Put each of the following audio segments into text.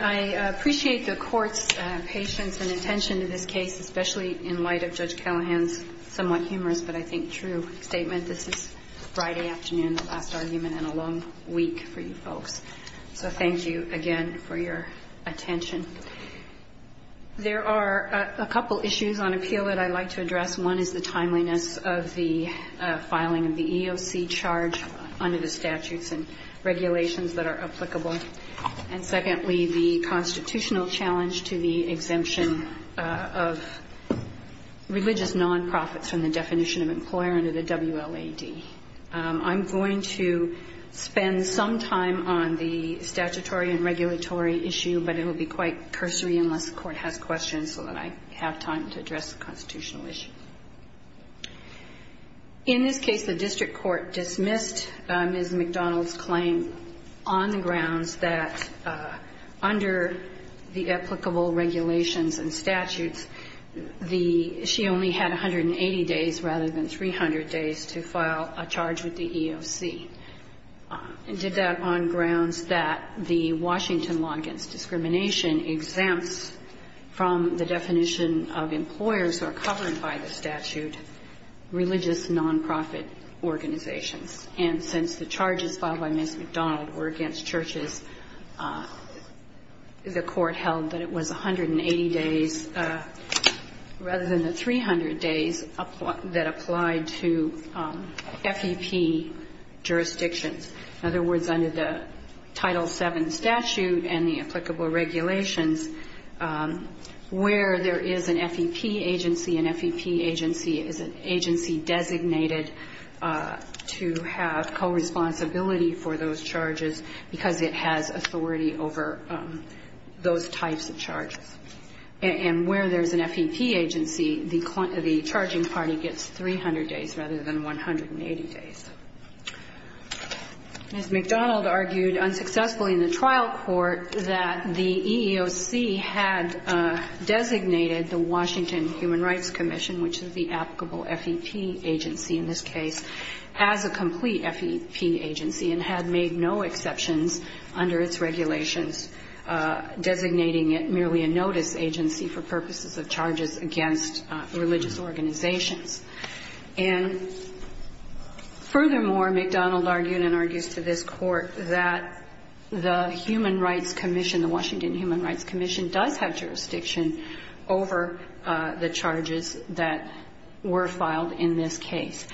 I appreciate the court's patience and attention to this case, especially in light of Judge Callahan's somewhat humorous but I think true statement. This is Friday afternoon, the last argument in a long week for you folks. So thank you again for your attention. There are a couple issues on appeal that I'd like to address. One is the timeliness of the filing of the EEOC charge under the statutes and regulations that are applicable. And secondly, the constitutional challenge to the exemption of religious nonprofits from the definition of employer under the WLAD. I'm going to spend some time on the statutory and regulatory issue, but it will be quite cursory unless the court has questions so that I have time to address the constitutional issue. In this case, the district court dismissed Ms. McDonald's claim on the grounds that under the applicable regulations and statutes, she only had 180 days rather than 300 days to file a charge with the EEOC. It did that on grounds that the Washington law against discrimination exempts from the definition of employers who are covered by the statute religious nonprofit organizations. And since the charges filed by Ms. McDonald were against churches, the court held that it was 180 days rather than the 300 days that applied to FEP jurisdictions. In other words, under the Title VII statute and the applicable regulations, where there is an FEP agency, an FEP agency is an agency designated to have co-responsibility for those charges because it has authority over those types of charges. And where there's an FEP agency, the charging party gets 300 days rather than 180 days. Ms. McDonald argued unsuccessfully in the trial court that the EEOC had designated the Washington Human Rights Commission, which is the applicable FEP agency in this case, as a complete FEP agency and had made no exceptions under its regulations, designating it merely a notice agency for purposes of charges against religious organizations. And furthermore, McDonald argued and argues to this court that the Human Rights Commission, the Washington Human Rights Commission, does have jurisdiction over the charges that were filed in this case.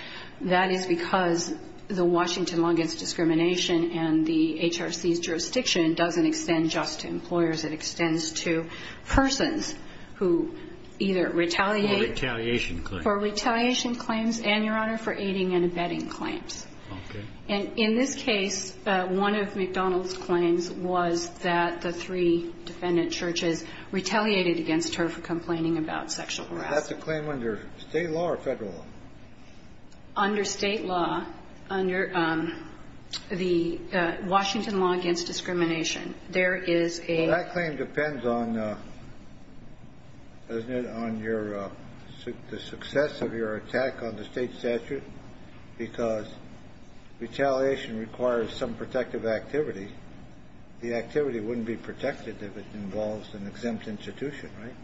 That is because the Washington law against discrimination and the HRC's jurisdiction doesn't extend just to employers. It extends to persons who either retaliate- Retaliation claims and, Your Honor, for aiding and abetting claims. Okay. And in this case, one of McDonald's claims was that the three defendant churches retaliated against her for complaining about sexual harassment. Is that the claim under state law or federal law? Under state law, under the Washington law against discrimination, there is a- The claim depends on, doesn't it, on your, the success of your attack on the state statute because retaliation requires some protective activity. The activity wouldn't be protected if it involves an exempt institution, right?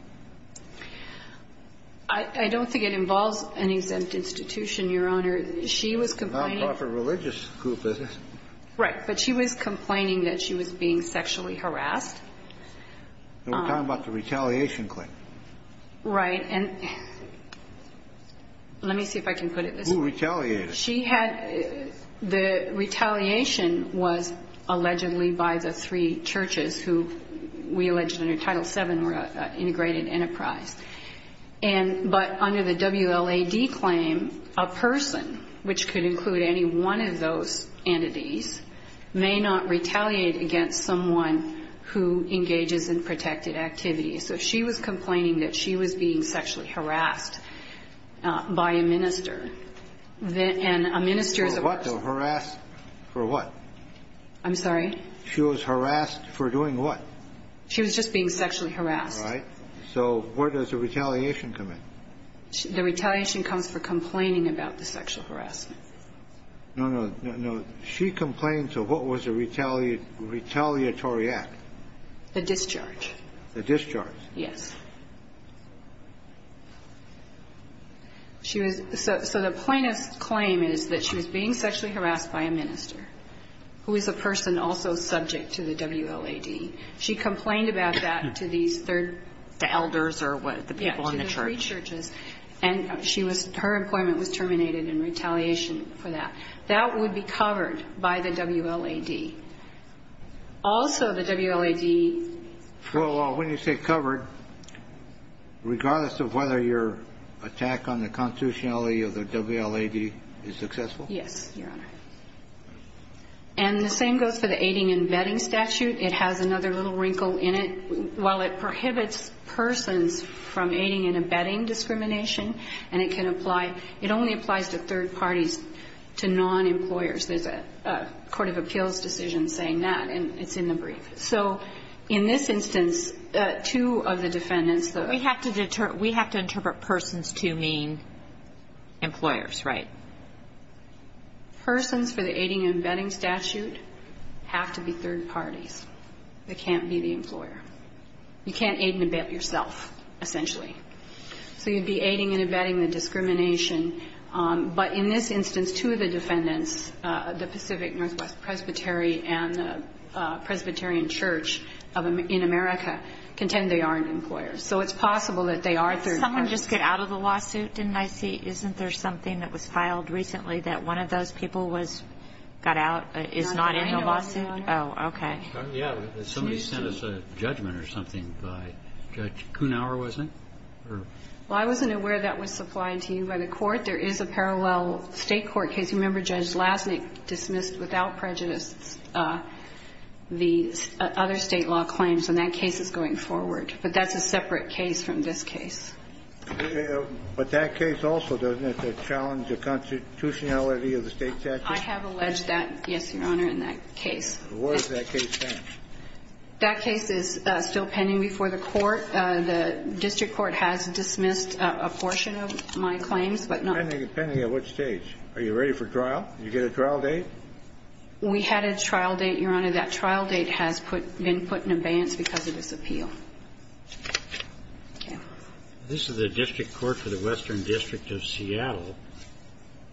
I don't think it involves an exempt institution, Your Honor. She was complaining- A non-profit religious group, is it? Right. But she was complaining that she was being sexually harassed. We're talking about the retaliation claim. Right. And let me see if I can put it this way. Who retaliated? She had, the retaliation was allegedly by the three churches who we alleged under Title VII were an integrated enterprise. And, but under the WLAD claim, a person, which could include any one of those entities, may not retaliate against someone who engages in protected activity. So she was complaining that she was being sexually harassed by a minister. And a minister is a- For what, though? Harassed for what? I'm sorry? She was harassed for doing what? She was just being sexually harassed. Right. So where does the retaliation come in? The retaliation comes for complaining about the sexual harassment. No, no, no, no. She complained to what was a retaliatory act? A discharge. A discharge. Yes. She was, so the plaintiff's claim is that she was being sexually harassed by a minister, who is a person also subject to the WLAD. She complained about that to these third- The elders or what, the people in the church? Yeah, to the three churches. And she was, her employment was terminated in retaliation for that. That would be covered by the WLAD. Also, the WLAD- Well, when you say covered, regardless of whether your attack on the constitutionality of the WLAD is successful? Yes, Your Honor. And the same goes for the aiding and abetting statute. It has another little wrinkle in it. While it prohibits persons from aiding and abetting discrimination, and it can apply, it only applies to third parties, to non-employers. There's a court of appeals decision saying that, and it's in the brief. So in this instance, two of the defendants- We have to interpret persons to mean employers, right? Persons for the aiding and abetting statute have to be third parties. They can't be the employer. You can't aid and abet yourself, essentially. So you'd be aiding and abetting the discrimination. But in this instance, two of the defendants, the Pacific Northwest Presbytery and the Presbyterian Church in America, contend they aren't employers. So it's possible that they are third parties. Did someone just get out of the lawsuit? Didn't I see? Isn't there something that was filed recently that one of those people was got out, is not in the lawsuit? Oh, okay. Yeah, somebody sent us a judgment or something by Judge Kuhnhauer, wasn't it? Well, I wasn't aware that was supplied to you by the court. There is a parallel State court case. Remember Judge Lasnik dismissed without prejudice the other State law claims, and that case is going forward. But that's a separate case from this case. But that case also, doesn't it, challenge the constitutionality of the State statute? I have alleged that, yes, Your Honor, in that case. Where does that case stand? That case is still pending before the court. The district court has dismissed a portion of my claims, but not the other. Depending on which stage. Are you ready for trial? Did you get a trial date? We had a trial date, Your Honor. That trial date has been put in abeyance because of this appeal. This is the district court for the Western District of Seattle.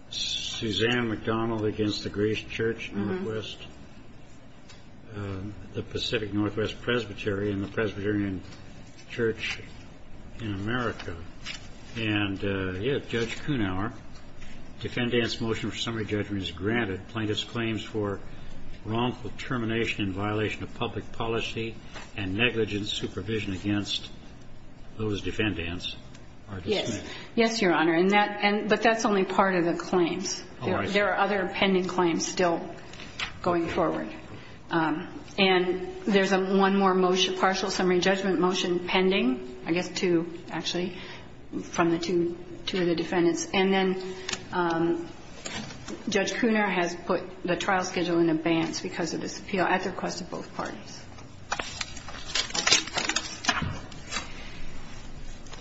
Susanne McDonald against the Greece Church Northwest, the Pacific Northwest Presbytery, and the Presbyterian Church in America. And, yeah, Judge Kuhnhauer, defendant's motion for summary judgment is granted. Plaintiff's claims for wrongful termination in violation of public policy and negligent supervision against those defendants are dismissed. Yes, Your Honor, but that's only part of the claims. There are other pending claims still going forward. And there's one more motion, partial summary judgment motion pending, I guess two, actually, from the two of the defendants. And then Judge Kuhnhauer has put the trial schedule in abeyance because of this appeal at the request of both parties.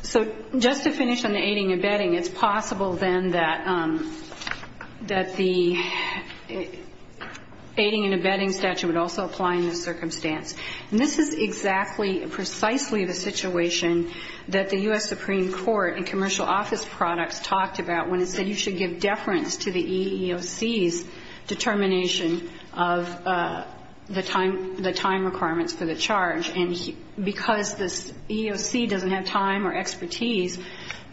So just to finish on the aiding and abetting, it's possible then that the aiding and abetting statute would also apply in this circumstance. And this is exactly, precisely the situation that the U.S. Supreme Court in commercial office products talked about when it said you should give deference to the EEOC's determination of the time requirements for the charge. And because this EEOC doesn't have time or expertise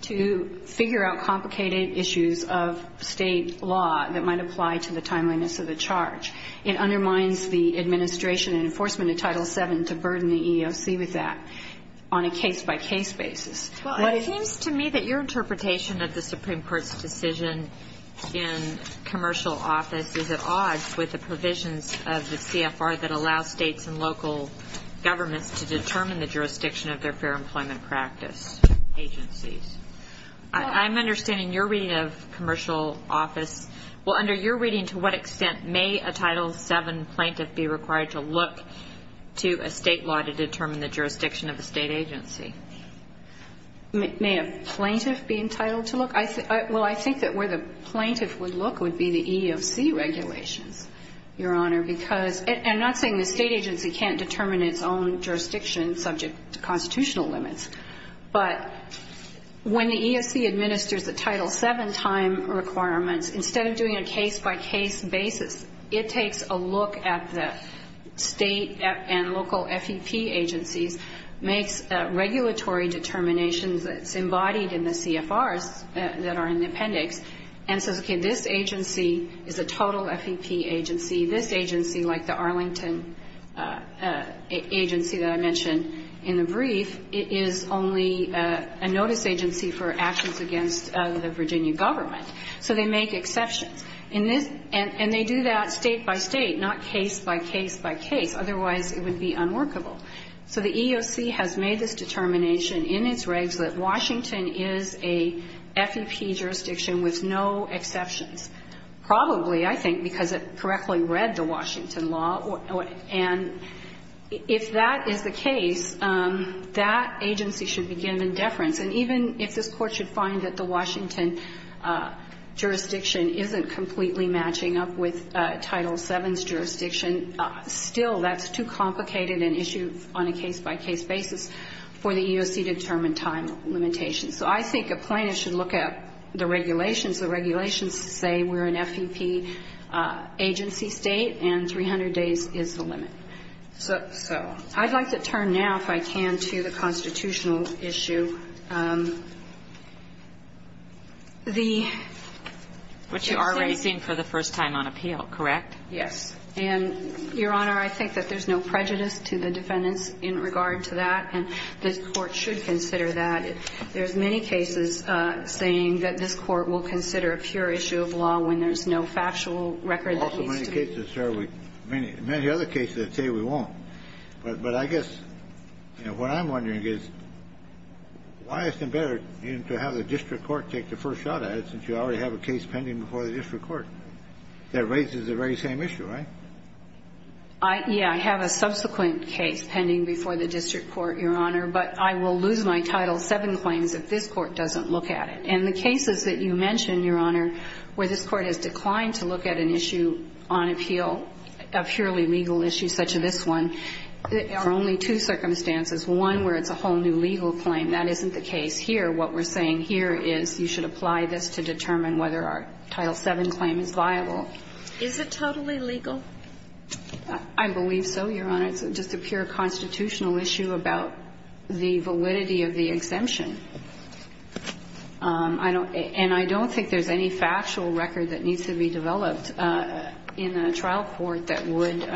to figure out complicated issues of state law that might apply to the timeliness of the charge, it undermines the administration and enforcement of Title VII to burden the EEOC with that on a case-by-case basis. Well, it seems to me that your interpretation of the Supreme Court's decision in commercial office is at odds with the provisions of the CFR that allows states and local governments to determine the jurisdiction of their fair employment practice agencies. I'm understanding your reading of commercial office. Well, under your reading, to what extent may a Title VII plaintiff be required to look to a state law to determine the jurisdiction of a state agency? May a plaintiff be entitled to look? Well, I think that where the plaintiff would look would be the EEOC regulations, Your Honor, because I'm not saying the state agency can't determine its own jurisdiction subject to constitutional limits. But when the EEOC administers the Title VII time requirements, instead of doing a case-by-case basis, it takes a look at the state and local FEP agencies, makes regulatory determinations that's embodied in the CFRs that are in the appendix, and says, okay, this agency is a total FEP agency. This agency, like the Arlington agency that I mentioned in the brief, is only a notice agency for actions against the Virginia government. So they make exceptions. And they do that state-by-state, not case-by-case-by-case. Otherwise, it would be unworkable. So the EEOC has made this determination in its regs that Washington is a FEP jurisdiction with no exceptions. Probably, I think, because it correctly read the Washington law. And if that is the case, that agency should be given deference. And even if this Court should find that the Washington jurisdiction isn't completely matching up with Title VII's jurisdiction, still, that's too complicated an issue on a case-by-case basis for the EEOC to determine time limitations. So I think a plaintiff should look at the regulations. The regulations say we're an FEP agency state, and 300 days is the limit. So I'd like to turn now, if I can, to the constitutional issue. The existing ---- Kagan. But you are raising for the first time on appeal, correct? Yes. And, Your Honor, I think that there's no prejudice to the defendants in regard to that. And this Court should consider that. There's many cases saying that this Court will consider a pure issue of law when there's no factual record that leads to it. There's also many cases, sir, many other cases that say we won't. But I guess, you know, what I'm wondering is why isn't it better to have the district court take the first shot at it since you already have a case pending before the district court that raises the very same issue, right? Yeah. I have a subsequent case pending before the district court, Your Honor. But I will lose my Title VII claims if this Court doesn't look at it. And the cases that you mention, Your Honor, where this Court has declined to look at an issue on appeal, a purely legal issue such as this one, there are only two circumstances, one where it's a whole new legal claim. That isn't the case here. What we're saying here is you should apply this to determine whether our Title VII claim is viable. Is it totally legal? I believe so, Your Honor. It's just a pure constitutional issue about the validity of the exemption. And I don't think there's any factual record that needs to be developed in a trial court that would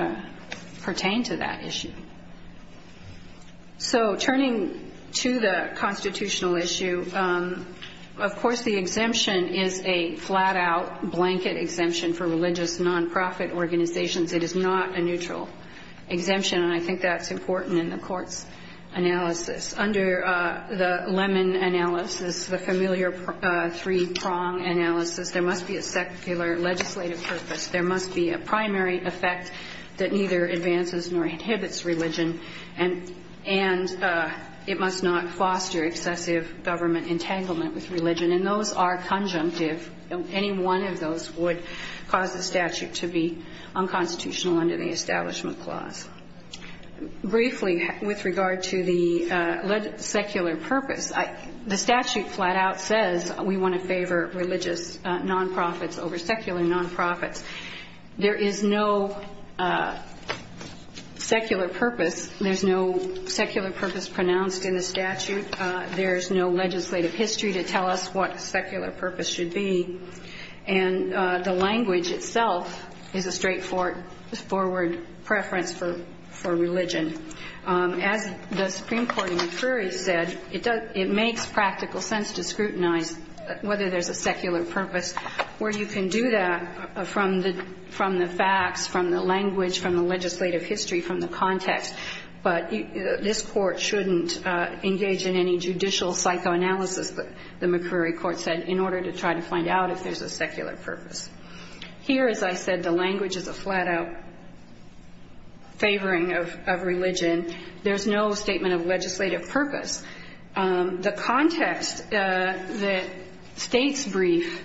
pertain to that issue. So turning to the constitutional issue, of course the exemption is a flat-out blanket exemption for religious nonprofit organizations. It is not a neutral exemption. And I think that's important in the Court's analysis. Under the Lemon analysis, the familiar three-prong analysis, there must be a secular legislative purpose. There must be a primary effect that neither advances nor inhibits religion, and it must not foster excessive government entanglement with religion. And those are conjunctive. Any one of those would cause the statute to be unconstitutional under the Establishment Clause. Briefly, with regard to the secular purpose, the statute flat-out says we want to favor religious nonprofits over secular nonprofits. There is no secular purpose. There's no secular purpose pronounced in the statute. There's no legislative history to tell us what a secular purpose should be. And the language itself is a straightforward preference for religion. As the Supreme Court in McCrory said, it makes practical sense to scrutinize whether there's a secular purpose, where you can do that from the facts, from the language, from the legislative history, from the context. But this Court shouldn't engage in any judicial psychoanalysis, the McCrory Court said, in order to try to find out if there's a secular purpose. Here, as I said, the language is a flat-out favoring of religion. There's no statement of legislative purpose. The context that states' brief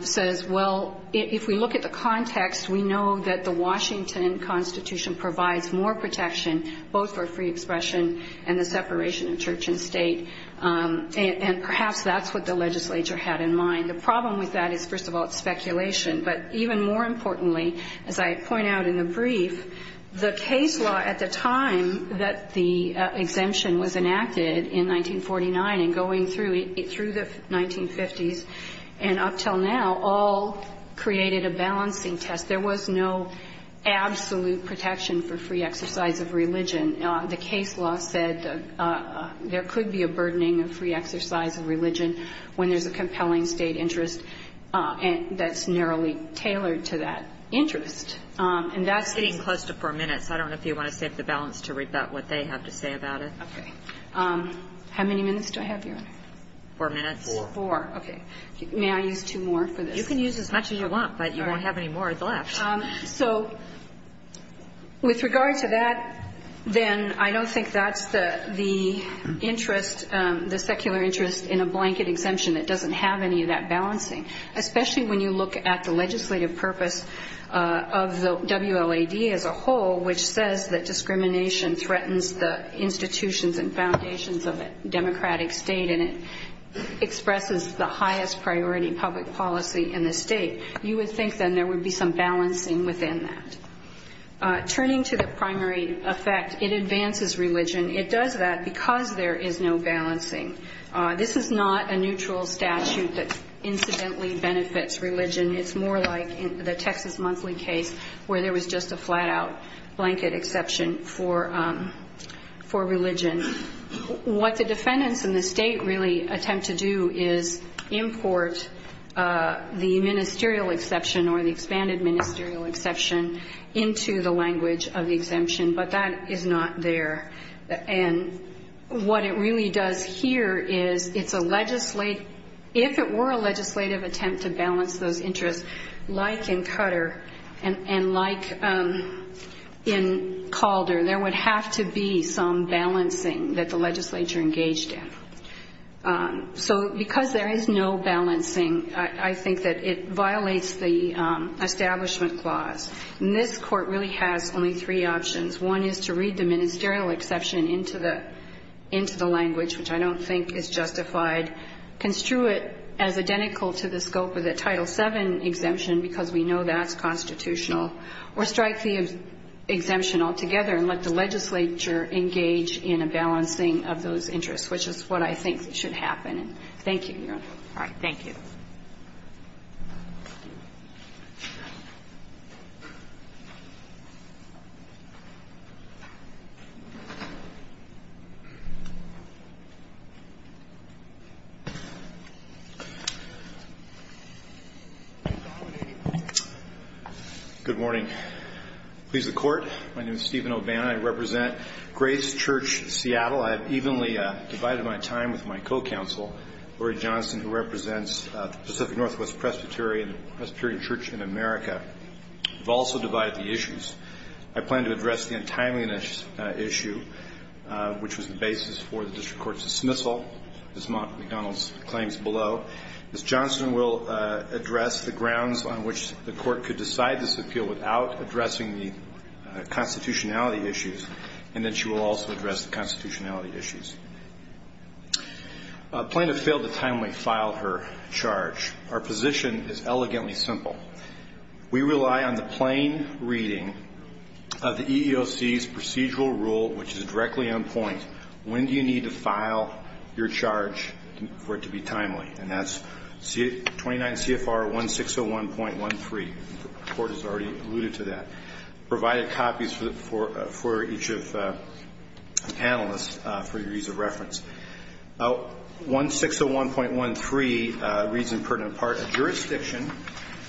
says, well, if we look at the context, we know that the Washington Constitution provides more protection, both for free expression and the separation of church and state. And perhaps that's what the legislature had in mind. The problem with that is, first of all, it's speculation. But even more importantly, as I point out in the brief, the case law at the time that the exemption was enacted in 1949 and going through the 1950s and up until now all created a balancing test. There was no absolute protection for free exercise of religion. The case law said there could be a burdening of free exercise of religion when there's a compelling State interest that's narrowly tailored to that interest. And that's the question. Kagan. It's getting close to 4 minutes. I don't know if you want to save the balance to read about what they have to say about it. Okay. How many minutes do I have, Your Honor? Four minutes. Four. Four. Okay. May I use two more for this? You can use as much as you want, but you won't have any more left. So with regard to that, then I don't think that's the interest, the secular interest in a blanket exemption that doesn't have any of that balancing, especially when you look at the legislative purpose of the WLAD as a whole, which says that discrimination threatens the institutions and foundations of a democratic State and it expresses the highest priority public policy in the State. You would think then there would be some balancing within that. Turning to the primary effect, it advances religion. It does that because there is no balancing. This is not a neutral statute that incidentally benefits religion. It's more like the Texas Monthly case where there was just a flat-out blanket exception for religion. What the defendants in the State really attempt to do is import the ministerial exception or the expanded ministerial exception into the language of the exemption, but that is not there. And what it really does here is it's a legislative, if it were a legislative attempt to balance those interests, like in Qatar and like in Calder, there would have to be some balancing that the legislature engaged in. So because there is no balancing, I think that it violates the Establishment Clause. And this Court really has only three options. One is to read the ministerial exception into the language, which I don't think is justified, construe it as identical to the scope of the Title VII exemption, because we know that's constitutional, or strike the exemption altogether and let the legislature engage in a balancing of those interests, which is what I think should happen. And thank you, Your Honor. All right. Thank you. Good morning. Please, the Court. My name is Stephen O'Bannon. I represent Graves Church, Seattle. I have evenly divided my time with my co-counsel, Lori Johnston, who represents the Pacific Northwest Presbyterian Church in America. We've also divided the issues. I plan to address the untimeliness issue, which was the basis for the district court's dismissal, as McDonald's claims below. Ms. Johnston will address the grounds on which the Court could decide this appeal without addressing the constitutionality issues, and then she will also address the constitutionality issues. Plaintiff failed to timely file her charge. Our position is elegantly simple. We rely on the plain reading of the EEOC's procedural rule, which is directly on point. When do you need to file your charge for it to be timely? And that's 29 CFR 1601.13. The Court has already alluded to that. I provided copies for each of the panelists for your ease of reference. 1601.13 reads in pertinent part, a jurisdiction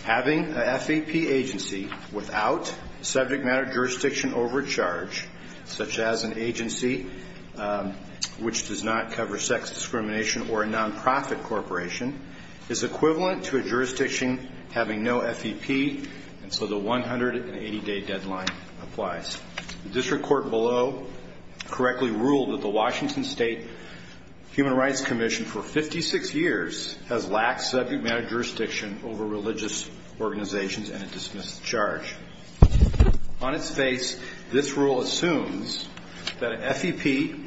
having an FEP agency without subject matter jurisdiction over a charge, such as an agency which does not cover sex discrimination or a nonprofit corporation, is equivalent to a jurisdiction having no FEP, and so the 180-day deadline applies. The district court below correctly ruled that the Washington State Human Rights Commission for 56 years has lacked subject matter jurisdiction over religious organizations, and it dismissed the charge. On its face, this rule assumes that an FEP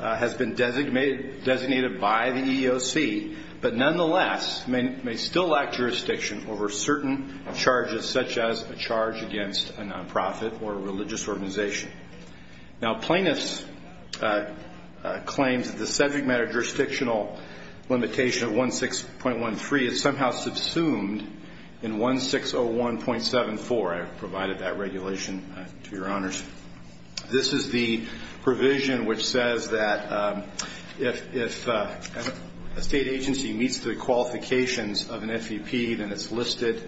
has been designated by the EEOC, but nonetheless may still lack jurisdiction over certain charges, such as a charge against a nonprofit or a religious organization. Now, plaintiffs claim that the subject matter jurisdictional limitation of 1601.13 is somehow subsumed in 1601.74. I provided that regulation to your honors. This is the provision which says that if a state agency meets the qualifications of an FEP, then it's listed,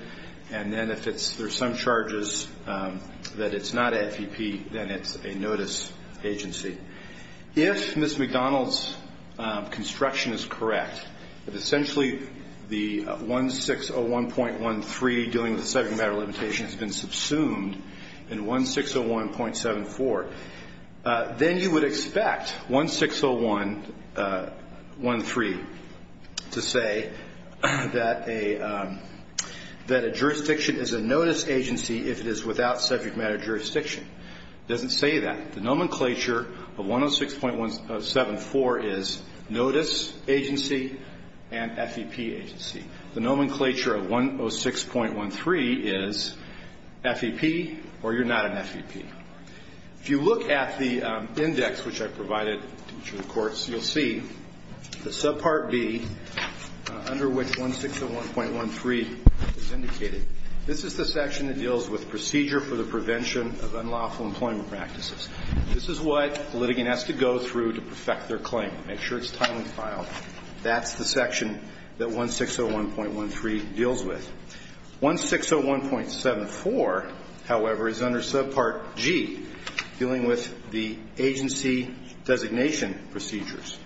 and then if there's some charges that it's not a FEP, then it's a notice agency. If Ms. McDonald's construction is correct, that essentially the 1601.13 dealing with 1601.74, then you would expect 1601.13 to say that a jurisdiction is a notice agency if it is without subject matter jurisdiction. It doesn't say that. The nomenclature of 106.174 is notice agency and FEP agency. The nomenclature of 106.13 is FEP or you're not an FEP. If you look at the index which I provided to the courts, you'll see the subpart B under which 1601.13 is indicated. This is the section that deals with procedure for the prevention of unlawful employment practices. This is what the litigant has to go through to perfect their claim. Make sure it's timely filed. That's the section that 1601.13 deals with. 1601.74, however, is under subpart G dealing with the agency designation procedures.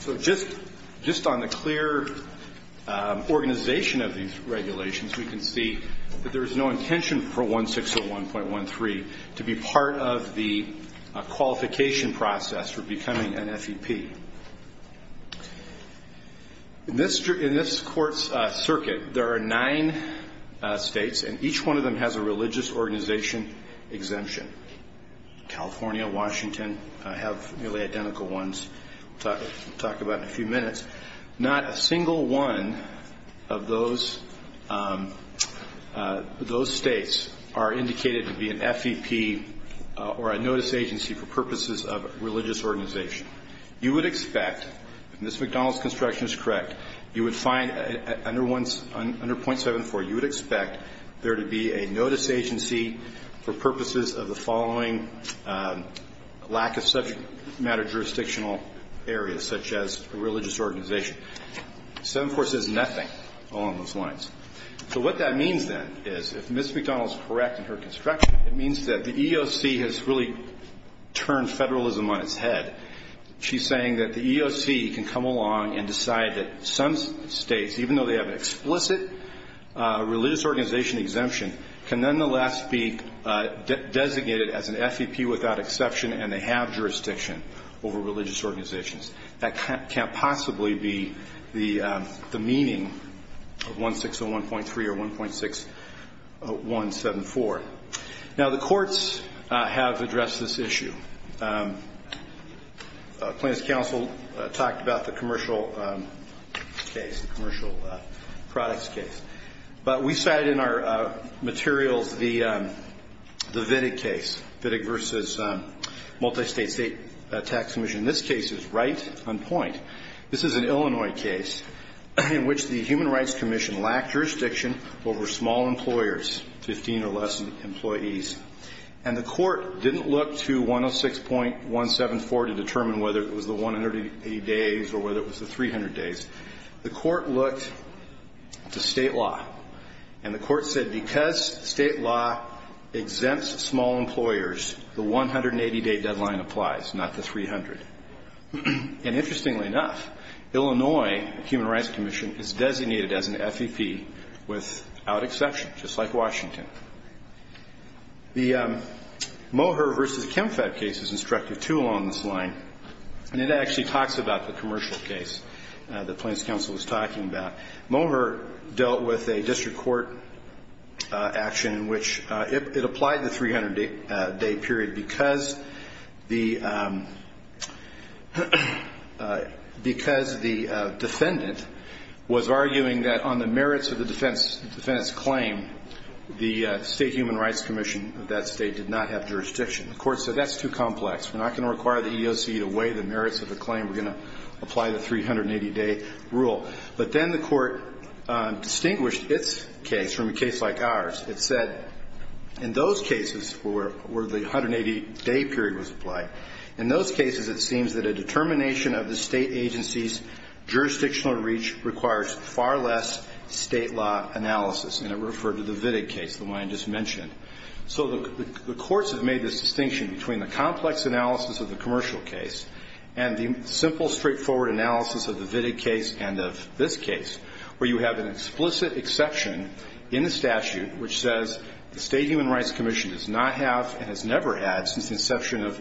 So just on the clear organization of these regulations, we can see that there is no intention for 1601.13 to be part of the qualification process for becoming an FEP. In this court's circuit, there are nine states and each one of them has a religious organization exemption. California, Washington have nearly identical ones. We'll talk about it in a few minutes. Not a single one of those states are indicated to be an FEP or a notice agency for purposes of religious organization. You would expect, if Ms. McDonald's construction is correct, you would find under .74, you would expect there to be a notice agency for purposes of the following lack of subject matter jurisdictional areas, such as a religious organization. 7-4 says nothing along those lines. So what that means, then, is if Ms. McDonald is correct in her construction, it means that the EEOC has really turned federalism on its head. She's saying that the EEOC can come along and decide that some states, even though they have an explicit religious organization exemption, can nonetheless be designated as an FEP without exception and they have jurisdiction over religious organizations. That can't possibly be the meaning of 1601.3 or 1.6174. Now, the courts have addressed this issue. Plaintiff's counsel talked about the commercial case, the commercial products case. But we cited in our materials the Vidig case, Vidig v. Multistate State Tax Commission. This case is right on point. This is an Illinois case in which the Human Rights Commission lacked jurisdiction over small employers, 15 or less employees. And the court didn't look to 106.174 to determine whether it was the 180 days or whether it was the 300 days. The court looked to state law. And the court said because state law exempts small employers, the 180-day deadline applies, not the 300. And interestingly enough, Illinois Human Rights Commission is designated as an FEP without exception, just like Washington. The Moher v. ChemFed case is instructive, too, along this line. And it actually talks about the commercial case that Plaintiff's counsel was talking about. Moher dealt with a district court action in which it applied the 300-day period because the defendant was arguing that on the merits of the defendant's claim, the State Human Rights Commission of that state did not have jurisdiction. The court said that's too complex. We're not going to require the EEOC to weigh the merits of the claim. We're going to apply the 380-day rule. But then the court distinguished its case from a case like ours. It said in those cases where the 180-day period was applied, in those cases it seems that a determination of the state agency's jurisdictional reach requires far less state law analysis. And it referred to the Vidig case, the one I just mentioned. So the courts have made this distinction between the complex analysis of the commercial case and the simple, straightforward analysis of the Vidig case and of this case, where you have an explicit exception in the statute which says the State Human Rights Commission does not have and has never had since the inception of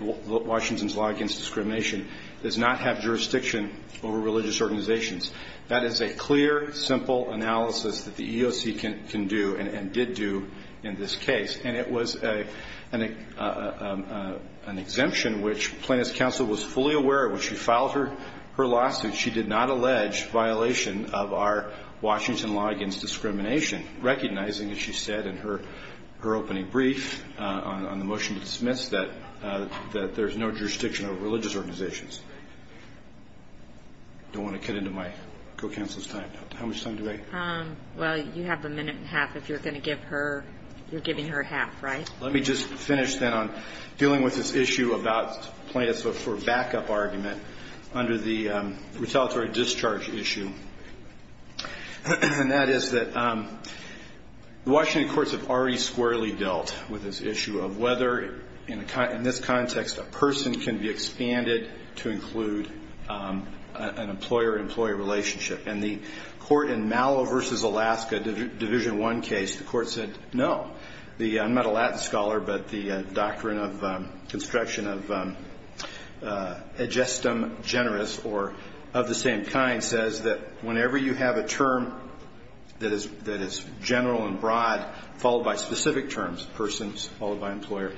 Washington's law against discrimination, does not have jurisdiction over religious organizations. That is a clear, simple analysis that the EEOC can do and did do in this case. And it was an exemption which plaintiff's counsel was fully aware when she filed her lawsuit she did not allege violation of our Washington law against discrimination, recognizing, as she said in her opening brief on the motion to dismiss, that there's no jurisdiction over religious organizations. I don't want to cut into my co-counsel's time. How much time do I have? Well, you have a minute and a half. If you're going to give her, you're giving her half, right? Let me just finish then on dealing with this issue about plaintiffs for backup argument under the retaliatory discharge issue. And that is that the Washington courts have already squarely dealt with this issue of whether in this context a person can be expanded to include an employer-employee relationship. And the court in Mallow v. Alaska Division I case, the court said no. I'm not a Latin scholar, but the Doctrine of Construction of Aegestum Generis or of the same kind says that whenever you have a term that is general and broad followed by specific terms, persons followed by employer,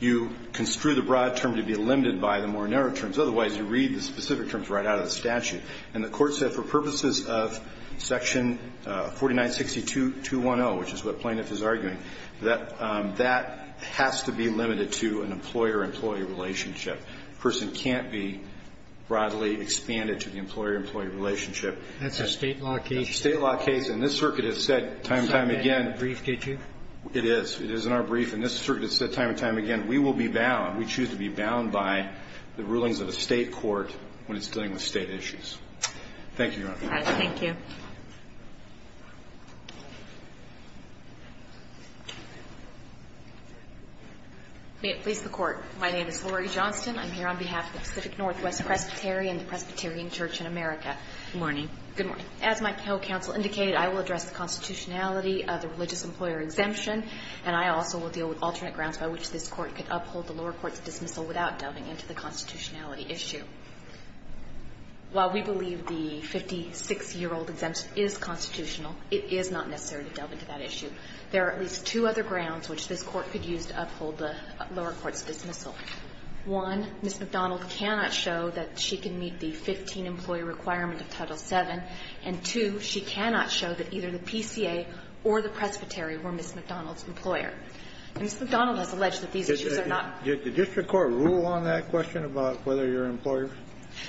you construe the broad term to be limited by the more narrow terms. Otherwise, you read the specific terms right out of the statute. And the court said for purposes of section 4962.210, which is what plaintiff is arguing, that that has to be limited to an employer-employee relationship. A person can't be broadly expanded to the employer-employee relationship. That's a State law case. That's a State law case. And this circuit has said time and time again. It's not in that brief, did you? It is. It is in our brief. And this circuit has said time and time again, we will be bound, we choose to be bound by the rulings of a State court when it's dealing with State issues. Thank you, Your Honor. Thank you. May it please the Court. My name is Lori Johnston. I'm here on behalf of Pacific Northwest Presbytery and the Presbyterian Church in America. Good morning. Good morning. As my co-counsel indicated, I will address the constitutionality of the religious employer exemption. And I also will deal with alternate grounds by which this Court could uphold the lower court's dismissal without delving into the constitutionality issue. While we believe the 56-year-old exemption is constitutional, it is not necessary to delve into that issue. There are at least two other grounds which this Court could use to uphold the lower court's dismissal. One, Ms. McDonald cannot show that she can meet the 15-employee requirement of Title VII. And two, she cannot show that either the PCA or the presbytery were Ms. McDonald's employer. And Ms. McDonald has alleged that these issues are not. Did the district court rule on that question about whether you're an employer?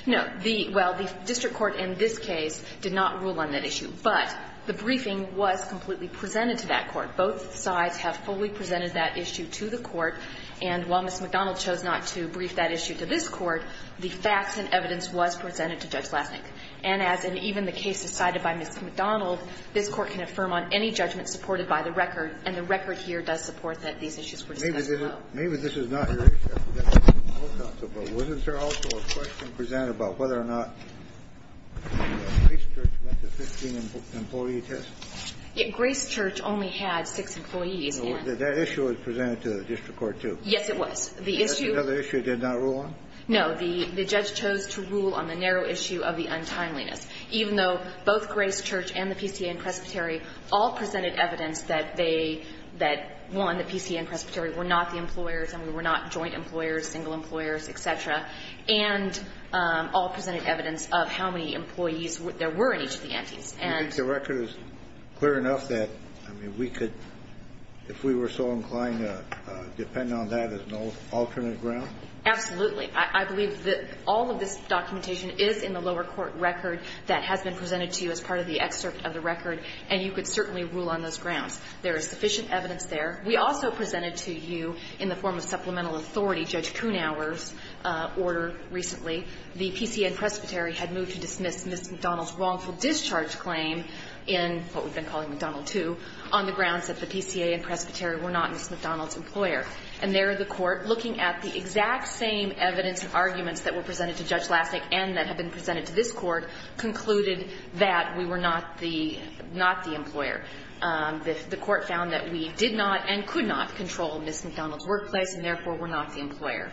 No. The – well, the district court in this case did not rule on that issue. But the briefing was completely presented to that court. Both sides have fully presented that issue to the court. And while Ms. McDonald chose not to brief that issue to this Court, the facts and evidence was presented to Judge Lassink. And as in even the case decided by Ms. McDonald, this Court can affirm on any judgment supported by the record, and the record here does support that these issues were discussed above. Maybe this is not your issue. But wasn't there also a question presented about whether or not Grace Church met the 15-employee test? Grace Church only had six employees. That issue was presented to the district court, too. Yes, it was. The issue – Another issue it did not rule on? No. The judge chose to rule on the narrow issue of the untimeliness, even though both Grace Church and the PCA and Presbytery all presented evidence that they – that, one, the PCA and Presbytery were not the employers and we were not joint employers, single employers, et cetera, and all presented evidence of how many employees there were in each of the entities. And the record is clear enough that, I mean, we could – if we were so inclined to depend on that as an alternate ground? Absolutely. I believe that all of this documentation is in the lower court record that has been presented to you as part of the excerpt of the record, and you could certainly rule on those grounds. There is sufficient evidence there. We also presented to you, in the form of supplemental authority, Judge Kuhnhauer's order recently. The PCA and Presbytery had moved to dismiss Ms. McDonald's wrongful discharge claim in what we've been calling McDonald 2 on the grounds that the PCA and Presbytery were not Ms. McDonald's employer. And there, the Court, looking at the exact same evidence and arguments that were presented to Judge Lasnik and that have been presented to this Court, concluded that we were not the – not the employer. The Court found that we did not and could not control Ms. McDonald's workplace and, therefore, were not the employer.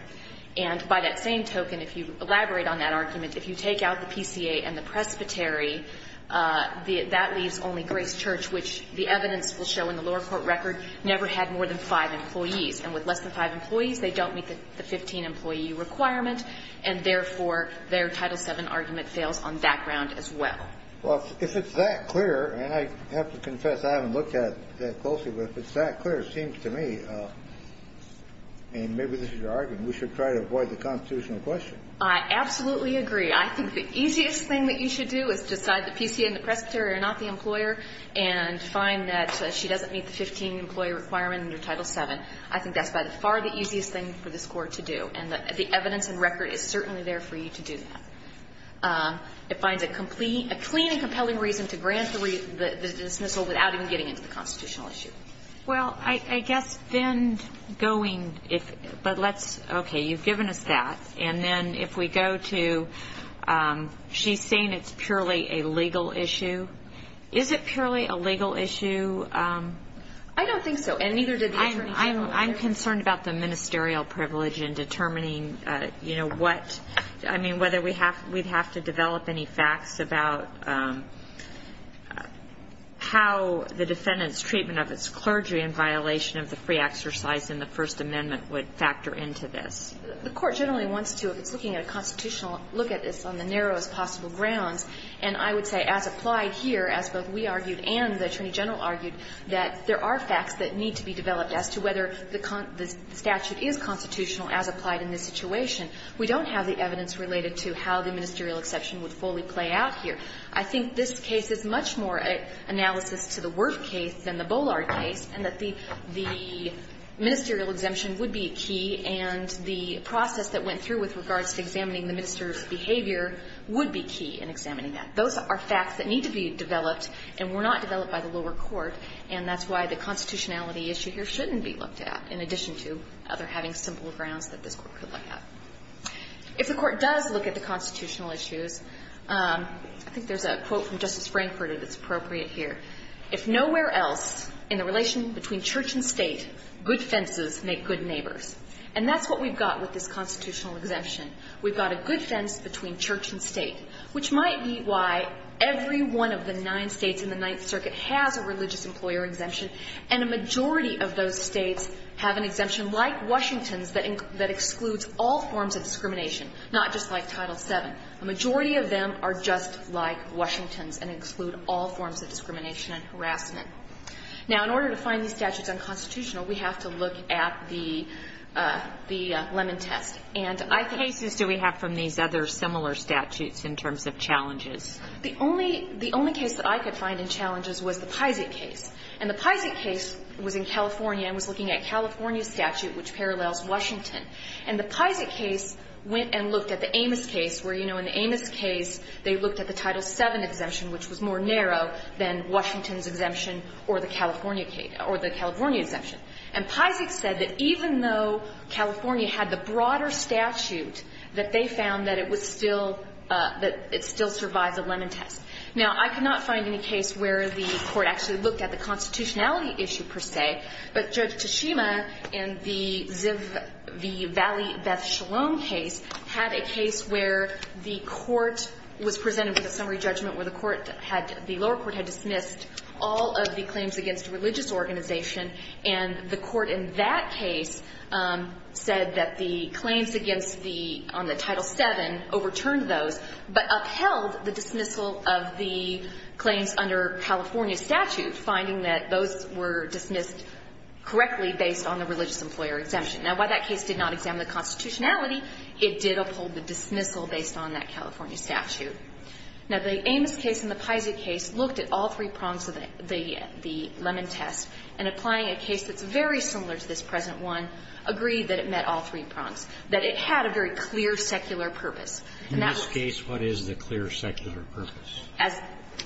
And by that same token, if you elaborate on that argument, if you take out the PCA and the Presbytery, that leaves only Grace Church, which the evidence will show in less than five employees. They don't meet the 15-employee requirement, and, therefore, their Title VII argument fails on that ground as well. Well, if it's that clear, and I have to confess I haven't looked at it that closely, but if it's that clear, it seems to me, and maybe this is your argument, we should try to avoid the constitutional question. I absolutely agree. I think the easiest thing that you should do is decide the PCA and the Presbytery are not the employer and find that she doesn't meet the 15-employee requirement under Title VII. I think that's by far the easiest thing for this Court to do. And the evidence and record is certainly there for you to do that. It finds a clean and compelling reason to grant the dismissal without even getting into the constitutional issue. Well, I guess then going – but let's – okay, you've given us that. And then if we go to – she's saying it's purely a legal issue. Is it purely a legal issue? I don't think so. And neither did the Attorney General. I'm concerned about the ministerial privilege in determining, you know, what – I mean, whether we have – we'd have to develop any facts about how the defendant's treatment of its clergy in violation of the free exercise in the First Amendment would factor into this. The Court generally wants to, if it's looking at a constitutional look at this, on the narrowest possible grounds. And I would say, as applied here, as both we argued and the Attorney General argued, that there are facts that need to be developed as to whether the statute is constitutional as applied in this situation. We don't have the evidence related to how the ministerial exception would fully play out here. I think this case is much more an analysis to the Wirth case than the Bollard case, and that the ministerial exemption would be key, and the process that went through with regards to examining the minister's behavior would be key in examining that. Those are facts that need to be developed, and were not developed by the lower court, and that's why the constitutionality issue here shouldn't be looked at, in addition to other having simple grounds that this Court could look at. If the Court does look at the constitutional issues, I think there's a quote from Justice Frankfurter that's appropriate here. If nowhere else in the relation between church and state, good fences make good neighbors. And that's what we've got with this constitutional exemption. We've got a good fence between church and state, which might be why every one of the nine States in the Ninth Circuit has a religious employer exemption, and a majority of those States have an exemption like Washington's that excludes all forms of discrimination, not just like Title VII. A majority of them are just like Washington's and exclude all forms of discrimination and harassment. Now, in order to find these statutes unconstitutional, we have to look at the lemon test. And I think the only case that I could find in challenges was the Peysik case. And the Peysik case was in California and was looking at California's statute, which parallels Washington. And the Peysik case went and looked at the Amos case, where, you know, in the Amos case they looked at the Title VII exemption, which was more narrow than Washington's exemption or the California case or the California exemption. And Peysik said that even though California had the broader statute, that they found that it was still, that it still survived the Lennon test. Now, I could not find any case where the court actually looked at the constitutionality issue per se, but Judge Tashima in the Valley Beth Shalom case had a case where the court was presented with a summary judgment where the lower court had dismissed all of the claims against a religious organization. And the court in that case said that the claims against the, on the Title VII overturned those, but upheld the dismissal of the claims under California statute, finding that those were dismissed correctly based on the religious employer exemption. Now, while that case did not examine the constitutionality, it did uphold the dismissal based on that California statute. Now, the Amos case and the Peysik case looked at all three prongs of the Lennon test, and applying a case that's very similar to this present one, agreed that it met all three prongs, that it had a very clear secular purpose. And that was as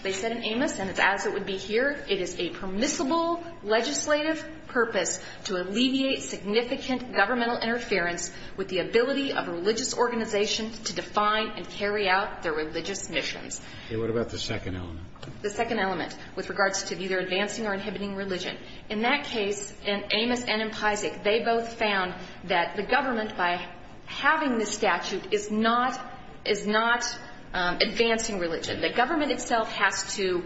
they said in Amos, and as it would be here, it is a permissible legislative purpose to alleviate significant governmental interference with the ability of a religious organization to define and carry out their religious missions. And what about the second element? The second element, with regards to either advancing or inhibiting religion. In that case, in Amos and in Peysik, they both found that the government, by having this statute, is not advancing religion. The government itself has to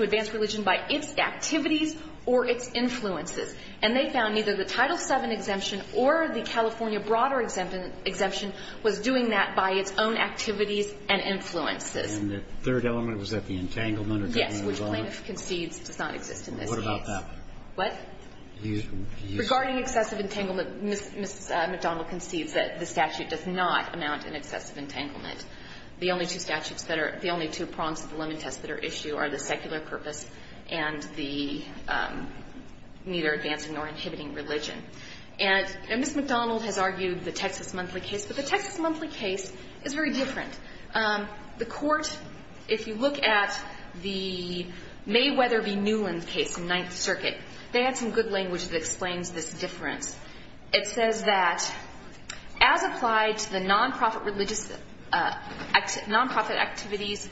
advance religion by its activities or its influences. And they found neither the Title VII exemption or the California broader exemption was doing that by its own activities and influences. And the third element, was that the entanglement of the government was on it? Yes, which plaintiff concedes does not exist in this case. Well, what about that one? What? Regarding excessive entanglement, Ms. McDonnell concedes that the statute does not amount in excessive entanglement. The only two statutes that are the only two prongs of the Lennon test that are issued are the secular purpose and the neither advancing nor inhibiting religion. And Ms. McDonnell has argued the Texas Monthly case. But the Texas Monthly case is very different. The court, if you look at the Mayweather v. Newland case in Ninth Circuit, they had some good language that explains this difference. It says that, as applied to the non-profit religious, non-profit activities,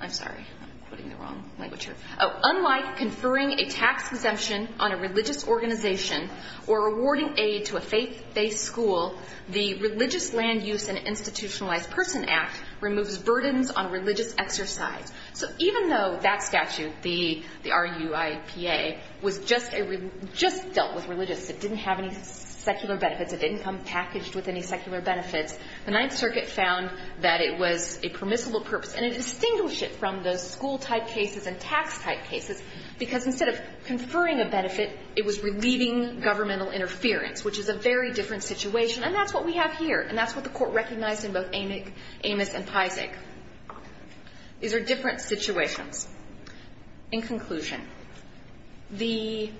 I'm sorry, I'm putting the wrong language here. Unlike conferring a tax exemption on a religious organization or awarding aid to a faith-based school, the Religious Land Use and Institutionalized Person Act removes burdens on religious exercise. So even though that statute, the RUIPA, was just dealt with religious, it didn't have any secular benefits, it didn't come packaged with any secular benefits, the Ninth Circuit found that it was a permissible purpose. And it distinguished it from those school-type cases and tax-type cases because instead of conferring a benefit, it was relieving governmental interference, which is a very different situation. And that's what we have here. And that's what the court recognized in both Amos and Pisac. These are different situations. In conclusion, the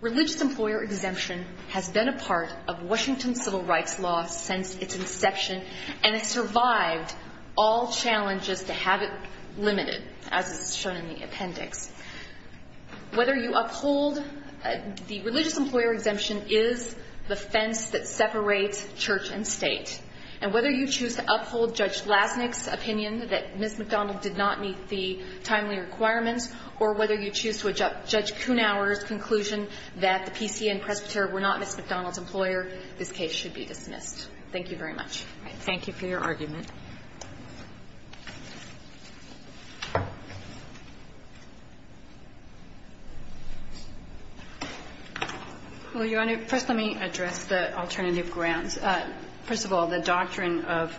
religious employer exemption has been a part of Washington civil rights law since its inception, and it survived all challenges to have it limited, as is shown in the appendix. Whether you uphold the religious employer exemption is the fence that separates church and state. And whether you choose to uphold Judge Lasnik's opinion that Ms. McDonald did not meet the timely requirements, or whether you choose to adopt Judge Kuhnauer's conclusion that the PC and Presbyter were not Ms. McDonald's employer, this case should be dismissed. Thank you very much. Thank you for your argument. Well, Your Honor, first let me address the alternative grounds. First of all, the doctrine of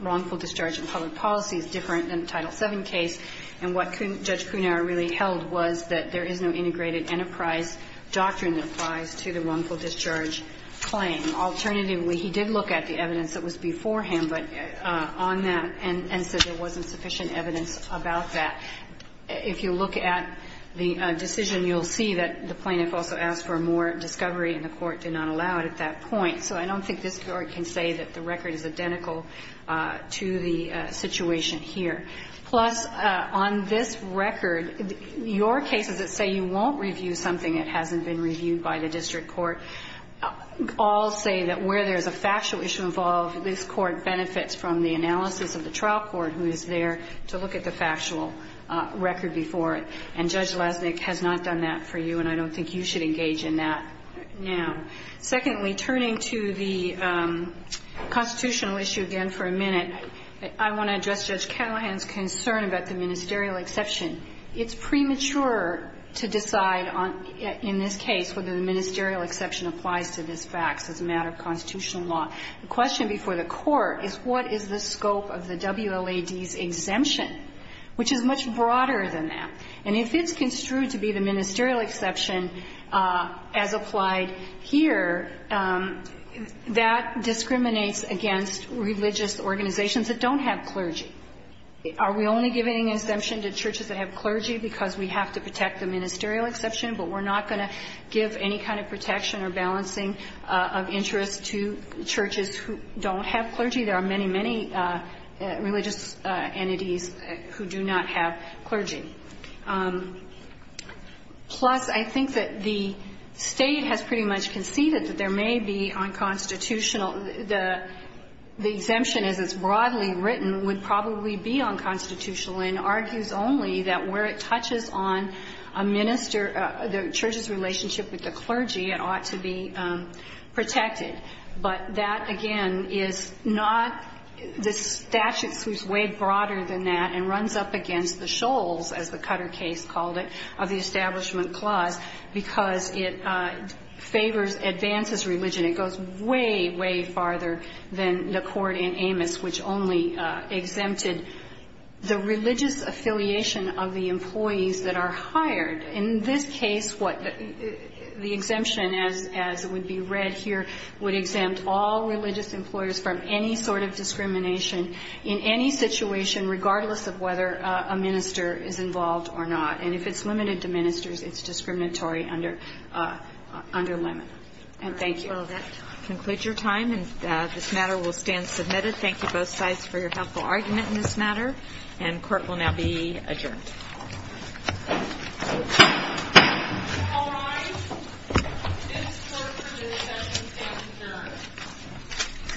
wrongful discharge in public policy is different than the Title VII case, and what Judge Kuhnauer really held was that there is no integrated enterprise doctrine that applies to the wrongful discharge claim. Alternatively, he did look at the evidence that was before him, but on that, and said there wasn't sufficient evidence about that. If you look at the decision, you'll see that the plaintiff also asked for more discovery, and the Court did not allow it at that point. So I don't think this Court can say that the record is identical to the situation here. Plus, on this record, your cases that say you won't review something that hasn't been reviewed by the district court, all say that where there's a factual issue involved, this Court benefits from the analysis of the trial court who is there to look at the factual record before it. And Judge Lesnik has not done that for you, and I don't think you should engage in that now. Secondly, turning to the constitutional issue again for a minute, I want to address Judge Callahan's concern about the ministerial exception. It's premature to decide on, in this case, whether the ministerial exception applies to this facts as a matter of constitutional law. The question before the Court is, what is the scope of the WLAD's exemption? Which is much broader than that. And if it's construed to be the ministerial exception as applied here, that discriminates against religious organizations that don't have clergy. Are we only giving an exemption to churches that have clergy because we have to protect the ministerial exception, but we're not going to give any kind of protection or balancing of interest to churches who don't have clergy? There are many, many religious entities who do not have clergy. Plus, I think that the State has pretty much conceded that there may be unconstitutional the exemption, as it's broadly written, would probably be unconstitutional and argues only that where it touches on a minister, the church's relationship with the clergy, it ought to be protected. But that, again, is not the statute that's way broader than that and runs up against the shoals, as the Cutter case called it, of the Establishment Clause, because it favors advances religion. It goes way, way farther than the Court in Amos, which only exempted the religious affiliation of the employees that are hired. In this case, the exemption, as would be read here, would exempt all religious employers from any sort of discrimination in any situation, regardless of whether a minister is involved or not. And if it's limited to ministers, it's discriminatory under limit. And thank you. I'll conclude your time, and this matter will stand submitted. Thank you both sides for your helpful argument in this matter, and court will now be adjourned.